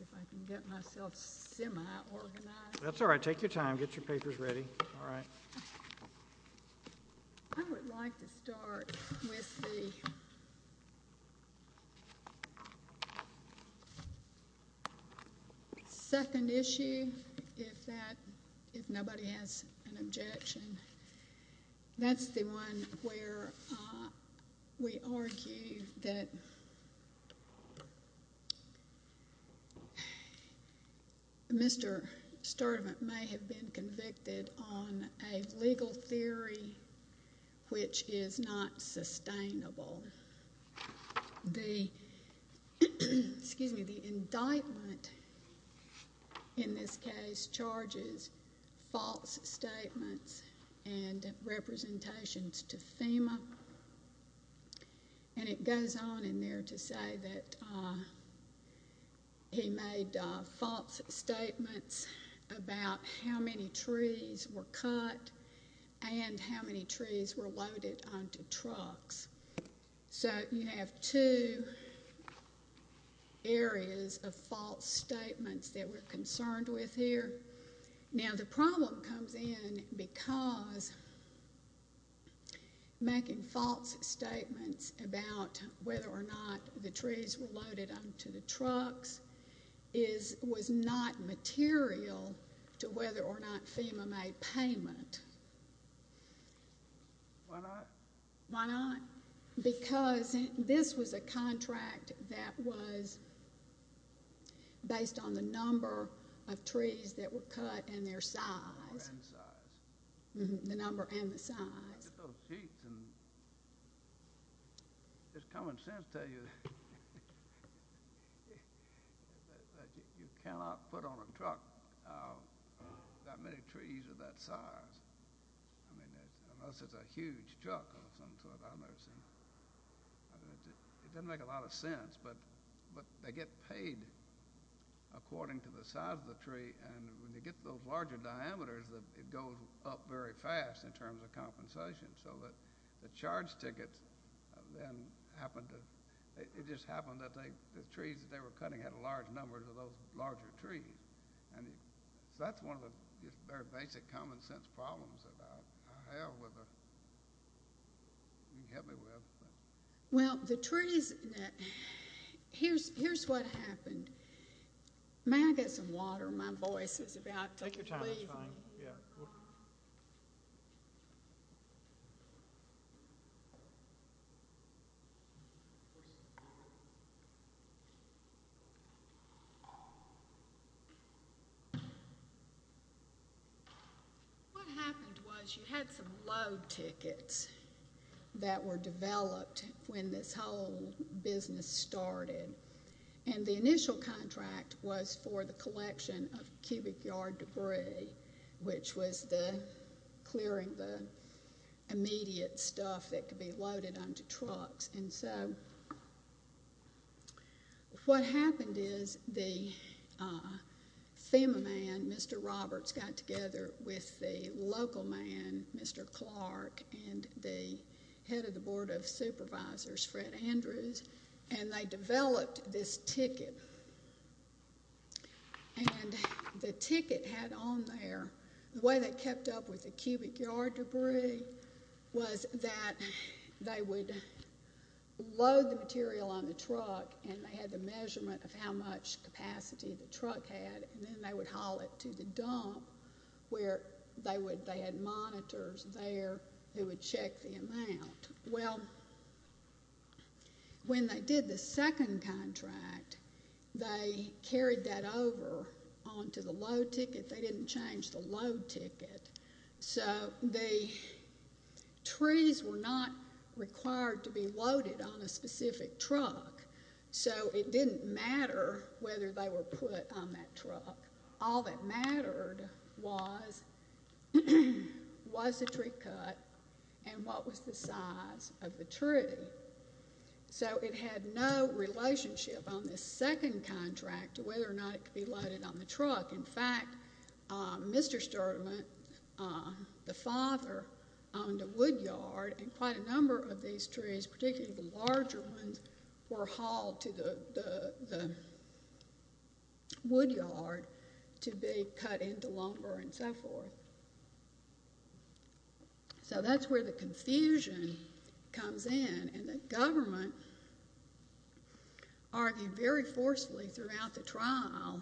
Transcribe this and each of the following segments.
If I can get myself semi-organized. That's all right. Take your time. Get your papers ready. All right. I would like to start with the second issue, if that, if nobody has an objection. That's the one where we argue that Mr. Sturdivant may have been convicted on a legal theory which is not sustainable. The indictment in this case charges false statements and representations to FEMA. And it goes on in there to say that he made false statements about how many trees were cut and how many trees were loaded onto trucks. So you have two areas of false statements that we're concerned with here. Now, the problem comes in because making false statements about whether or not the trees were loaded onto the trucks is, was not material to whether or not FEMA made payment. Why not? Why not? Because this was a contract that was based on the number of trees that were cut and their size. The number and the size. Just common sense tell you that you cannot put on a truck that many trees of that size. I mean, unless it's a huge truck of some sort I've never seen. It doesn't make a lot of sense. But they get paid according to the size of the tree. And when you get to those larger diameters, it goes up very fast in terms of compensation. So the charge tickets then happen to, it just happened that the trees that they were cutting had a large number of those larger trees. So that's one of the very basic common sense problems that I have with, you can get me with. Well, the trees, here's what happened. May I get some water? My voice is about to leave me. Take your time, it's fine. Yeah. What happened was you had some load tickets that were developed when this whole business started. And the initial contract was for the collection of cubic yard debris, which was clearing the immediate stuff that could be loaded onto trucks. And so what happened is the FEMA man, Mr. Roberts, got together with the local man, Mr. Clark, and the head of the Board of Supervisors, Fred Andrews. And they developed this ticket. And the ticket had on there, the way they kept up with the cubic yard debris was that they would load the material on the truck. And they had the measurement of how much capacity the truck had. And then they would haul it to the dump where they had monitors there who would check the amount. Well, when they did the second contract, they carried that over onto the load ticket. They didn't change the load ticket. So the trees were not required to be loaded on a specific truck. So it didn't matter whether they were put on that truck. All that mattered was the tree cut and what was the size of the tree. So it had no relationship on this second contract to whether or not it could be loaded on the truck. In fact, Mr. Sturman, the father, owned a wood yard. And quite a number of these trees, particularly the larger ones, were hauled to the wood yard to be cut into lumber and so forth. So that's where the confusion comes in. And the government argued very forcefully throughout the trial.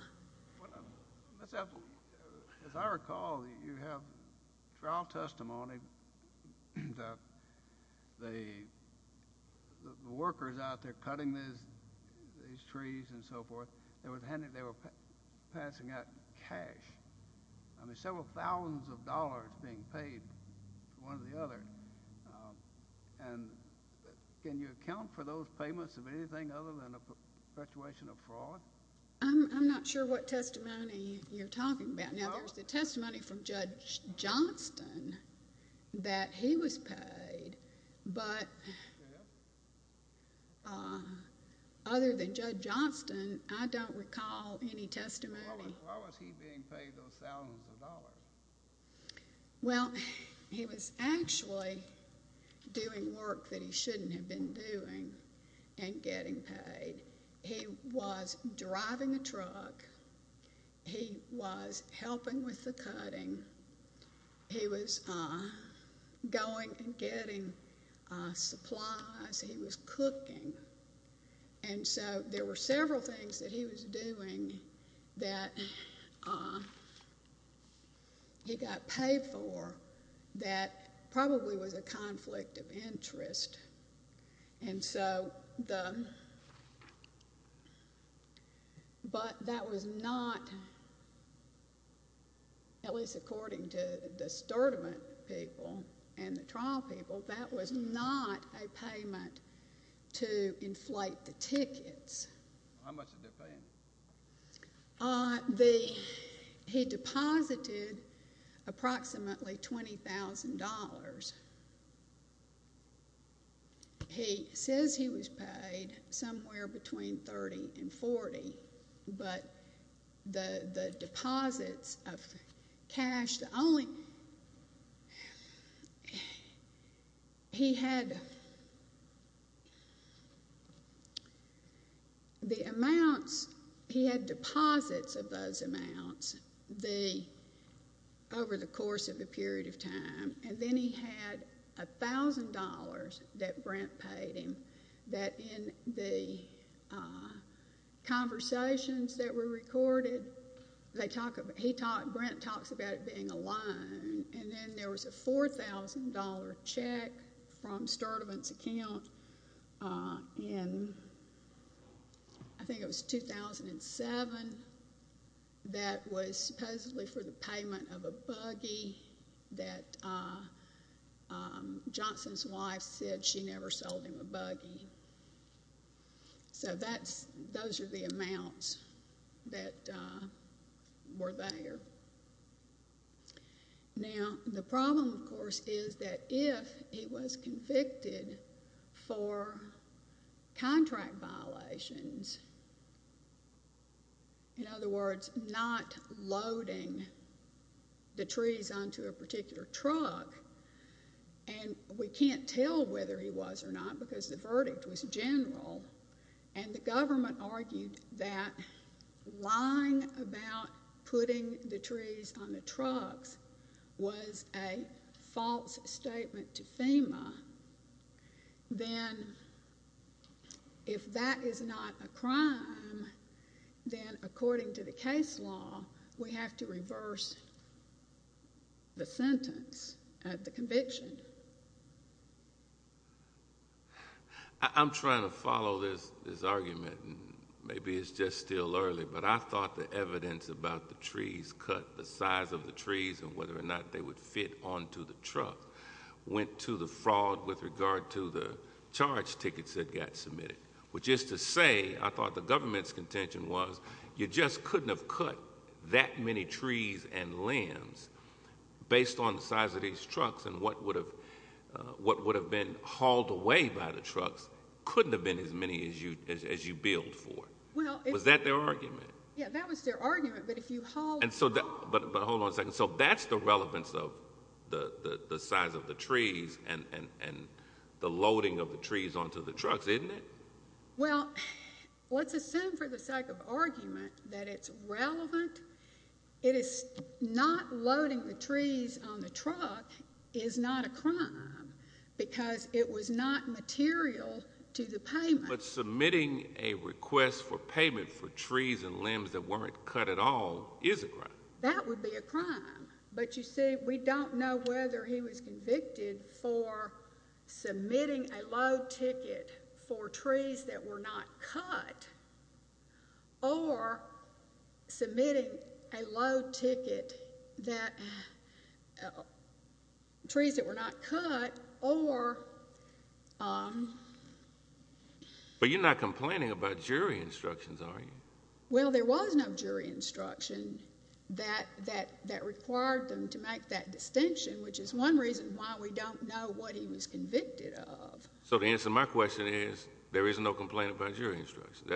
As I recall, you have trial testimony that the workers out there cutting these trees and so forth, they were passing out cash, several thousands of dollars being paid to one or the other. And can you account for those payments of anything other than a perpetuation of fraud? I'm not sure what testimony you're talking about. Now, there was the testimony from Judge Johnston that he was paid. But other than Judge Johnston, I don't recall any testimony. Well, he was actually doing work that he shouldn't have been doing and getting paid. He was driving a truck. He was helping with the cutting. He was going and getting supplies. He was cooking. And so there were several things that he was doing that he got paid for that probably was a conflict of interest. And so the—but that was not, at least according to the discernment people and the trial people, that was not a payment to inflate the tickets. How much did they pay him? He deposited approximately $20,000. He says he was paid somewhere between $30,000 and $40,000. But the deposits of cash, the only—he had the amounts—he had deposits of those amounts over the course of a period of time. And then he had $1,000 that Brent paid him that in the conversations that were recorded, they talk about—he talked—Brent talks about it being a loan. And then there was a $4,000 check from Sturdivant's account in, I think it was 2007, that was supposedly for the payment of a buggy that Johnson's wife said she never sold him a buggy. So that's—those are the amounts that were there. Now, the problem, of course, is that if he was convicted for contract violations, in other words, not loading the trees onto a particular truck, and we can't tell whether he was or not because the verdict was general, and the government argued that lying about putting the trees on the trucks was a false statement to FEMA, then if that is not a crime, then according to the case law, we have to reverse the sentence at the conviction. I'm trying to follow this argument, and maybe it's just still early, but I thought the evidence about the trees, cut the size of the trees and whether or not they would fit onto the truck, went to the fraud with regard to the charge tickets that got submitted, which is to say, I thought the government's contention was you just couldn't have cut that many trees and limbs based on the size of these trucks, and what would have been hauled away by the trucks couldn't have been as many as you billed for. Was that their argument? Yeah, that was their argument, but if you haul— But hold on a second. So that's the relevance of the size of the trees and the loading of the trees onto the trucks, isn't it? Well, let's assume for the sake of argument that it's relevant. It is—not loading the trees on the truck is not a crime because it was not material to the payment. But submitting a request for payment for trees and limbs that weren't cut at all is a crime. That would be a crime, but you see, we don't know whether he was convicted for submitting a load ticket for trees that were not cut or submitting a load ticket that—trees that were not cut or— But you're not complaining about jury instructions, are you? Well, there was no jury instruction that required them to make that distinction, which is one reason why we don't know what he was convicted of. So the answer to my question is there is no complaint about jury instruction.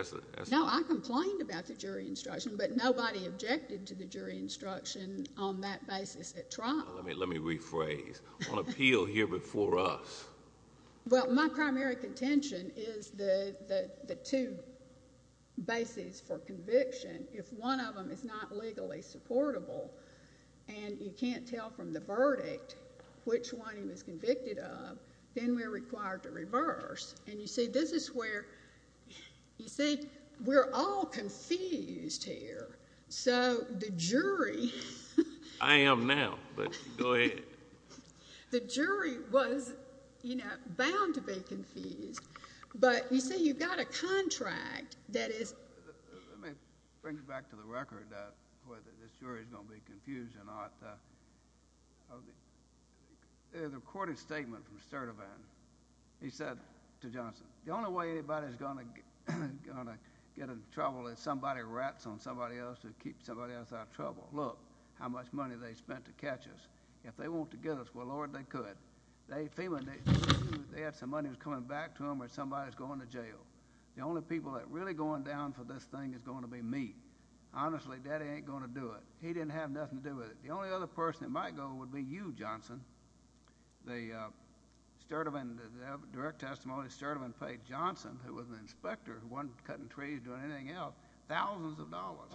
No, I complained about the jury instruction, but nobody objected to the jury instruction on that basis at trial. Let me rephrase. On appeal here before us— Well, my primary contention is the two bases for conviction. If one of them is not legally supportable and you can't tell from the verdict which one he was convicted of, then we're required to reverse. And you see, this is where—you see, we're all confused here. So the jury— I am now, but go ahead. The jury was, you know, bound to be confused. But, you see, you've got a contract that is— Let me bring it back to the record, whether this jury is going to be confused or not. There's a recorded statement from Sturtevant. He said to Johnson, The only way anybody's going to get in trouble is if somebody rats on somebody else to keep somebody else out of trouble. Look how much money they spent to catch us. If they want to get us, well, Lord, they could. They had some money that was coming back to them when somebody was going to jail. The only people that are really going down for this thing is going to be me. Honestly, Daddy ain't going to do it. He didn't have nothing to do with it. The only other person that might go would be you, Johnson. The Sturtevant—the direct testimony of Sturtevant paid Johnson, who was an inspector, who wasn't cutting trees or doing anything else, thousands of dollars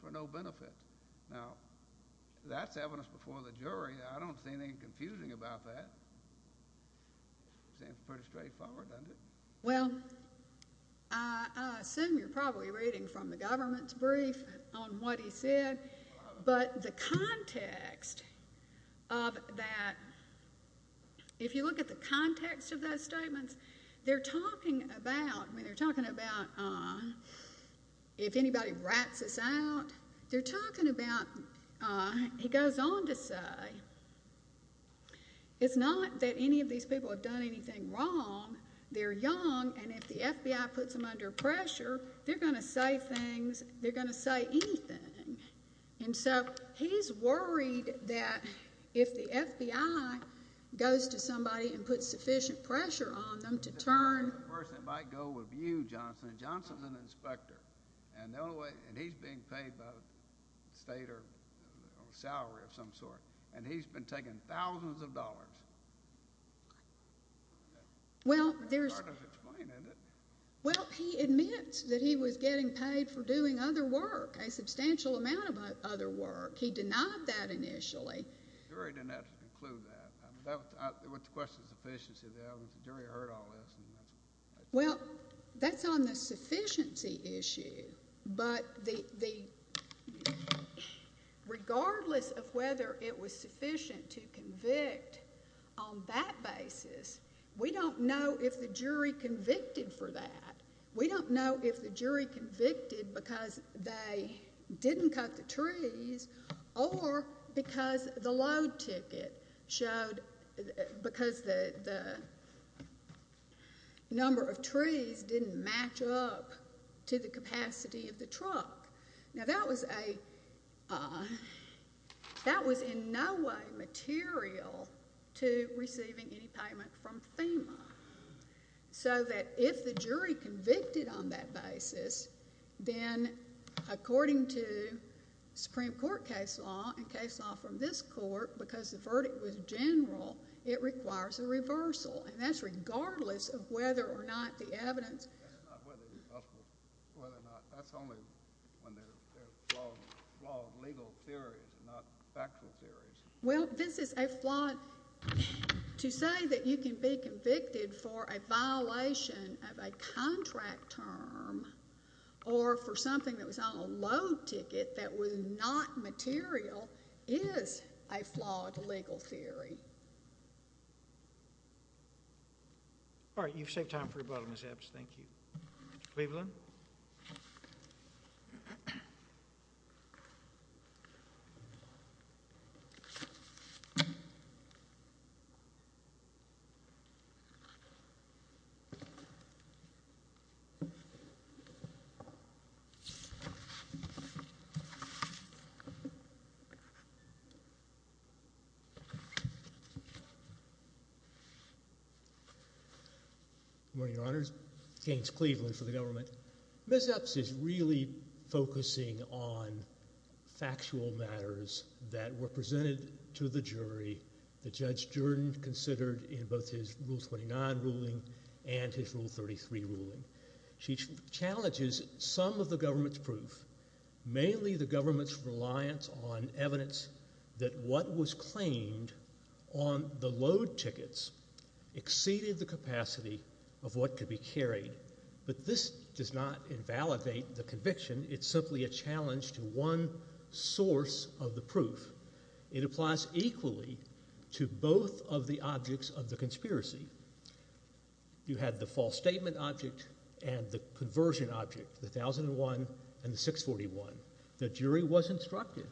for no benefit. Now, that's evidence before the jury. I don't see anything confusing about that. Seems pretty straightforward, doesn't it? Well, I assume you're probably reading from the government's brief on what he said. But the context of that—if you look at the context of those statements, they're talking about—I mean, they're talking about if anybody rats us out. They're talking about—he goes on to say, it's not that any of these people have done anything wrong. They're young, and if the FBI puts them under pressure, they're going to say things. And so he's worried that if the FBI goes to somebody and puts sufficient pressure on them to turn— The only other person that might go would be you, Johnson. Johnson's an inspector, and the only way—and he's being paid by the state or salary of some sort, and he's been taking thousands of dollars. Well, there's— It's hard to explain, isn't it? Well, he admits that he was getting paid for doing other work, a substantial amount of other work. He denied that initially. The jury didn't have to conclude that. It was a question of sufficiency. The jury heard all this. Well, that's on the sufficiency issue. But regardless of whether it was sufficient to convict on that basis, we don't know if the jury convicted for that. We don't know if the jury convicted because they didn't cut the trees or because the load ticket showed—because the number of trees didn't match up to the capacity of the truck. Now, that was a—that was in no way material to receiving any payment from FEMA so that if the jury convicted on that basis, then according to Supreme Court case law and case law from this court, because the verdict was general, it requires a reversal. And that's regardless of whether or not the evidence— Whether or not—that's only when there are flawed legal theories and not factual theories. Well, this is a flawed—to say that you can be convicted for a violation of a contract term or for something that was on a load ticket that was not material is a flawed legal theory. All right. You've saved time for rebuttal, Ms. Epps. Thank you. Mr. Cleveland? Good morning, Your Honors. James Cleveland for the government. Ms. Epps is really focusing on factual matters that were presented to the jury that Judge Jordan considered in both his Rule 29 ruling and his Rule 33 ruling. She challenges some of the government's proof, mainly the government's reliance on evidence that what was claimed on the load tickets exceeded the capacity of what could be carried. But this does not invalidate the conviction. It's simply a challenge to one source of the proof. It applies equally to both of the objects of the conspiracy. You had the false statement object and the conversion object, the 1001 and the 641. The jury was instructed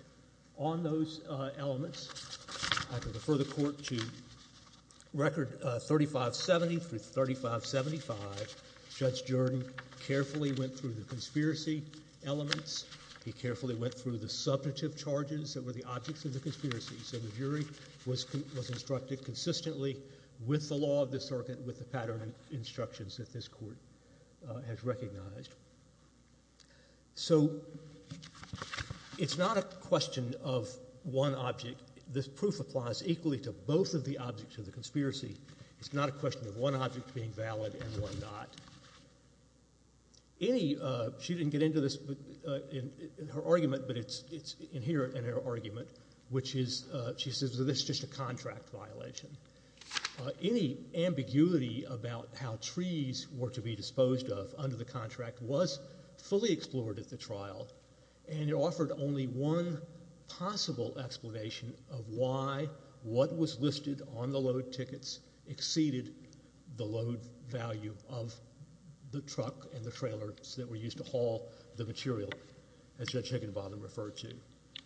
on those elements. I can refer the Court to Record 3570 through 3575. Judge Jordan carefully went through the conspiracy elements. He carefully went through the subjective charges that were the objects of the conspiracy. So the jury was instructed consistently with the law of the circuit, with the pattern of instructions that this Court has recognized. So it's not a question of one object. This proof applies equally to both of the objects of the conspiracy. It's not a question of one object being valid and one not. She didn't get into this in her argument, but it's inherent in her argument, which is she says that this is just a contract violation. Any ambiguity about how trees were to be disposed of under the contract was fully explored at the trial, and it offered only one possible explanation of why what was listed on the load tickets exceeded the load value of the truck and the trailers that were used to haul the material, as Judge Higginbottom referred to.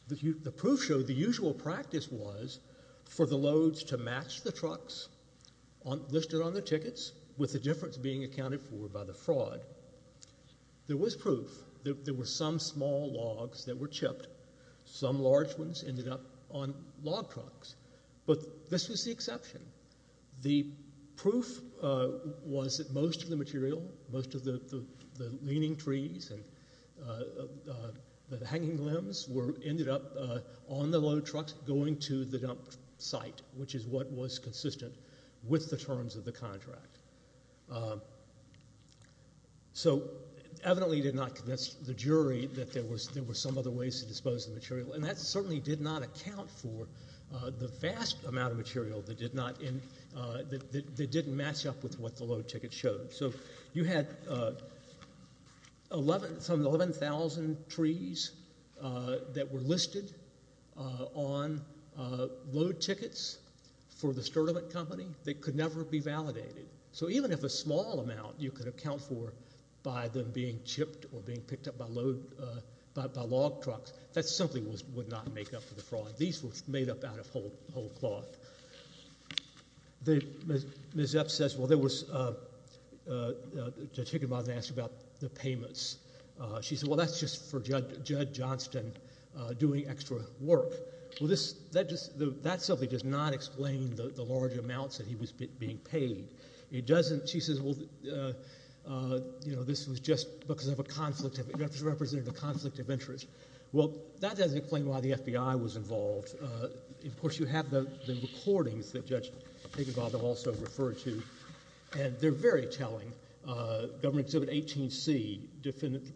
The proof showed the usual practice was for the loads to match the trucks listed on the tickets with the difference being accounted for by the fraud. There was proof that there were some small logs that were chipped. Some large ones ended up on log trucks. But this was the exception. The proof was that most of the material, most of the leaning trees and the hanging limbs ended up on the load trucks going to the dump site, which is what was consistent with the terms of the contract. So evidently it did not convince the jury that there were some other ways to dispose of the material, and that certainly did not account for the vast amount of material that didn't match up with what the load ticket showed. So you had some 11,000 trees that were listed on load tickets for the Sturtevant company that could never be validated. So even if a small amount you could account for by them being chipped or being picked up by log trucks, that simply would not make up for the fraud. These were made up out of whole cloth. Ms. Epps says, well, Judge Higginbottom asked about the payments. She said, well, that's just for Judd Johnston doing extra work. Well, that simply does not explain the large amounts that he was being paid. She says, well, this was just because of a conflict of interest. Well, that doesn't explain why the FBI was involved. Of course, you have the recordings that Judge Higginbottom also referred to, and they're very telling. Government Exhibit 18C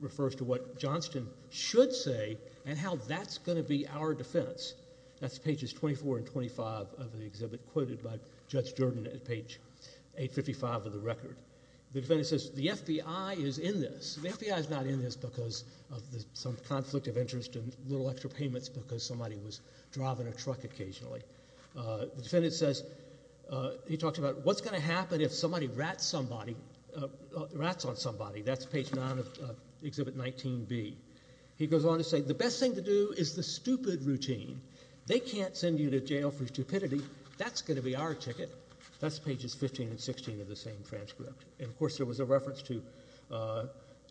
refers to what Johnston should say and how that's going to be our defense. That's pages 24 and 25 of the exhibit quoted by Judge Jordan at page 855 of the record. The defendant says, the FBI is in this. The FBI is not in this because of some conflict of interest and little extra payments because somebody was driving a truck occasionally. The defendant says, he talks about what's going to happen if somebody rats somebody, rats on somebody. That's page 9 of Exhibit 19B. He goes on to say, the best thing to do is the stupid routine. They can't send you to jail for stupidity. That's going to be our ticket. That's pages 15 and 16 of the same transcript. Of course, there was a reference to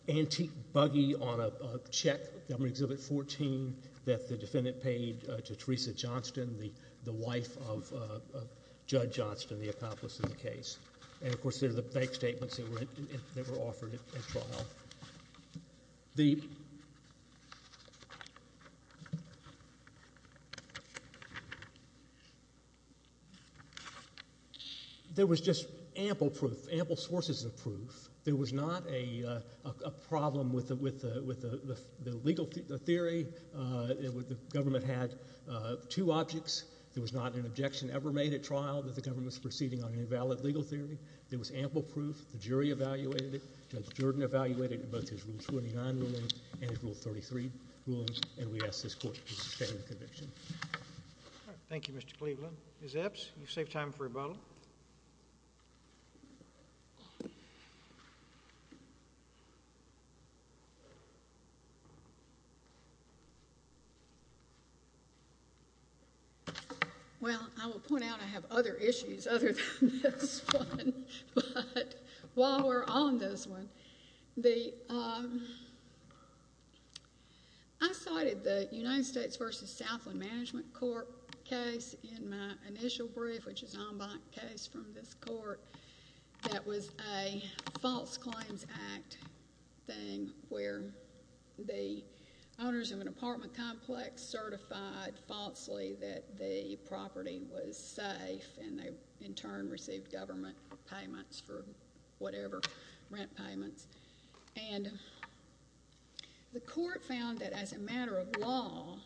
antique buggy on a check on Exhibit 14 that the defendant paid to Teresa Johnston, the wife of Judge Johnston, the accomplice in the case. Of course, there are the bank statements that were offered at trial. There was just ample proof, ample sources of proof. There was not a problem with the legal theory. The government had two objects. There was not an objection ever made at trial that the government was proceeding on an invalid legal theory. There was ample proof. The jury evaluated it. Judge Jordan evaluated both his Rule 29 rulings and his Rule 33 rulings, and we ask this Court to sustain the conviction. Thank you, Mr. Cleveland. Ms. Epps, you've saved time for rebuttal. Well, I will point out I have other issues other than this one. While we're on this one, I cited the United States v. Southland Management Court case in my initial brief, which is an en banc case from this court, that was a false claims act thing where the owners of an apartment complex certified falsely that the property was safe and they, in turn, received government payments for whatever, rent payments. And the court found that as a matter of law,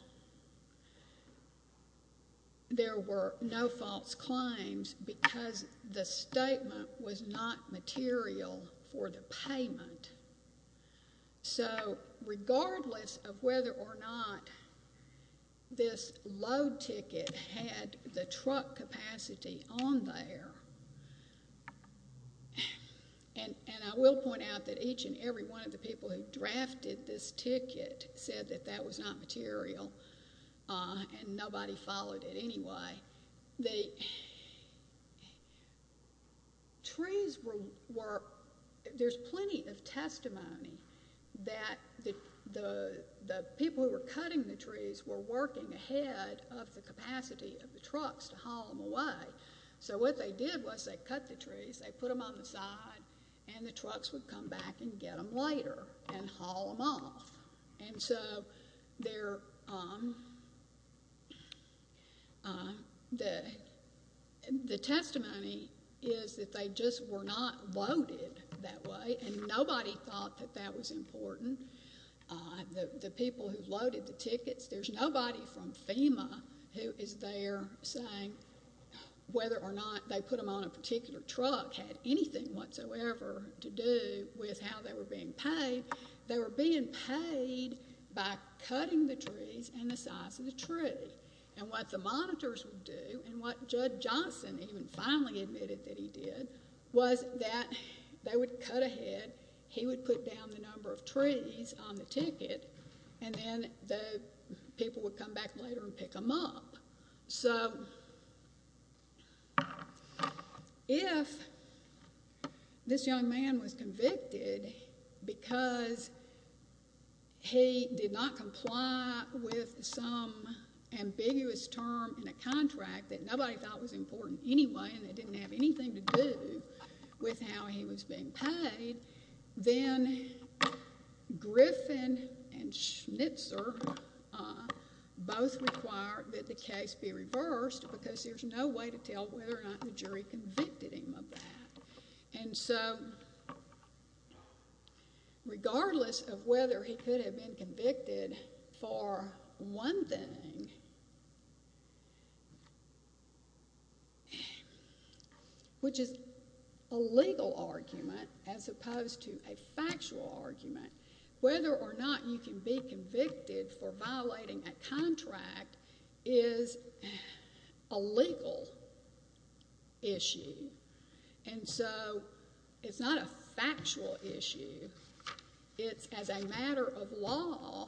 there were no false claims because the statement was not material for the payment. So regardless of whether or not this load ticket had the truck capacity on there, and I will point out that each and every one of the people who drafted this ticket said that that was not material and nobody followed it anyway. The trees were, there's plenty of testimony that the people who were cutting the trees were working ahead of the capacity of the trucks to haul them away. So what they did was they cut the trees, they put them on the side, and the trucks would come back and get them lighter and haul them off. And so their, the testimony is that they just were not loaded that way and nobody thought that that was important. The people who loaded the tickets, there's nobody from FEMA who is there saying whether or not they put them on a particular truck had anything whatsoever to do with how they were being paid. They were being paid by cutting the trees and the size of the tree. And what the monitors would do and what Judge Johnson even finally admitted that he did was that they would cut ahead, he would put down the number of trees on the ticket, and then the people would come back later and pick them up. So if this young man was convicted because he did not comply with some ambiguous term in a contract that nobody thought was important anyway and it didn't have anything to do with how he was being paid, then Griffin and Schnitzer both required that the case be reversed because there's no way to tell whether or not the jury convicted him of that. And so regardless of whether he could have been convicted for one thing, which is a legal argument as opposed to a factual argument, whether or not you can be convicted for violating a contract is a legal issue. And so it's not a factual issue. It's as a matter of law,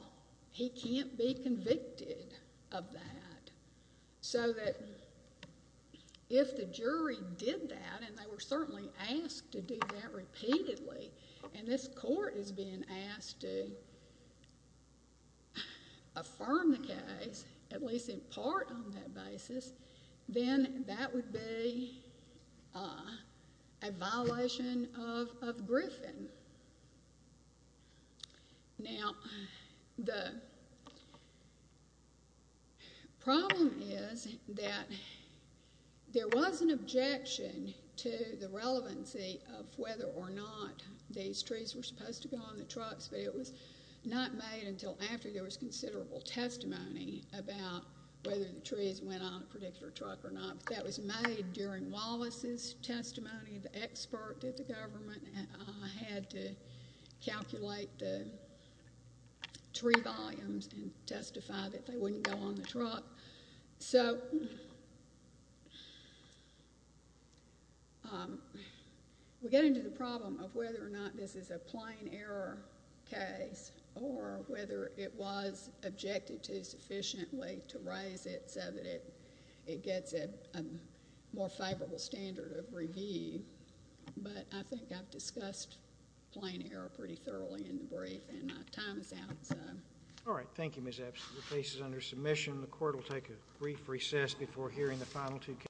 he can't be convicted of that. So that if the jury did that, and they were certainly asked to do that repeatedly, and this court is being asked to affirm the case, at least in part on that basis, then that would be a violation of Griffin. Now the problem is that there was an objection to the relevancy of whether or not these trees were supposed to go on the trucks, but it was not made until after there was considerable testimony about whether the trees went on a particular truck or not. That was made during Wallace's testimony. The expert at the government had to calculate the tree volumes and testify that they wouldn't go on the truck. So we get into the problem of whether or not this is a plain error case or whether it was objected to sufficiently to raise it so that it gets a more favorable standard of review. But I think I've discussed plain error pretty thoroughly in the brief, and my time is out. All right. Thank you, Ms. Epps. The case is under submission.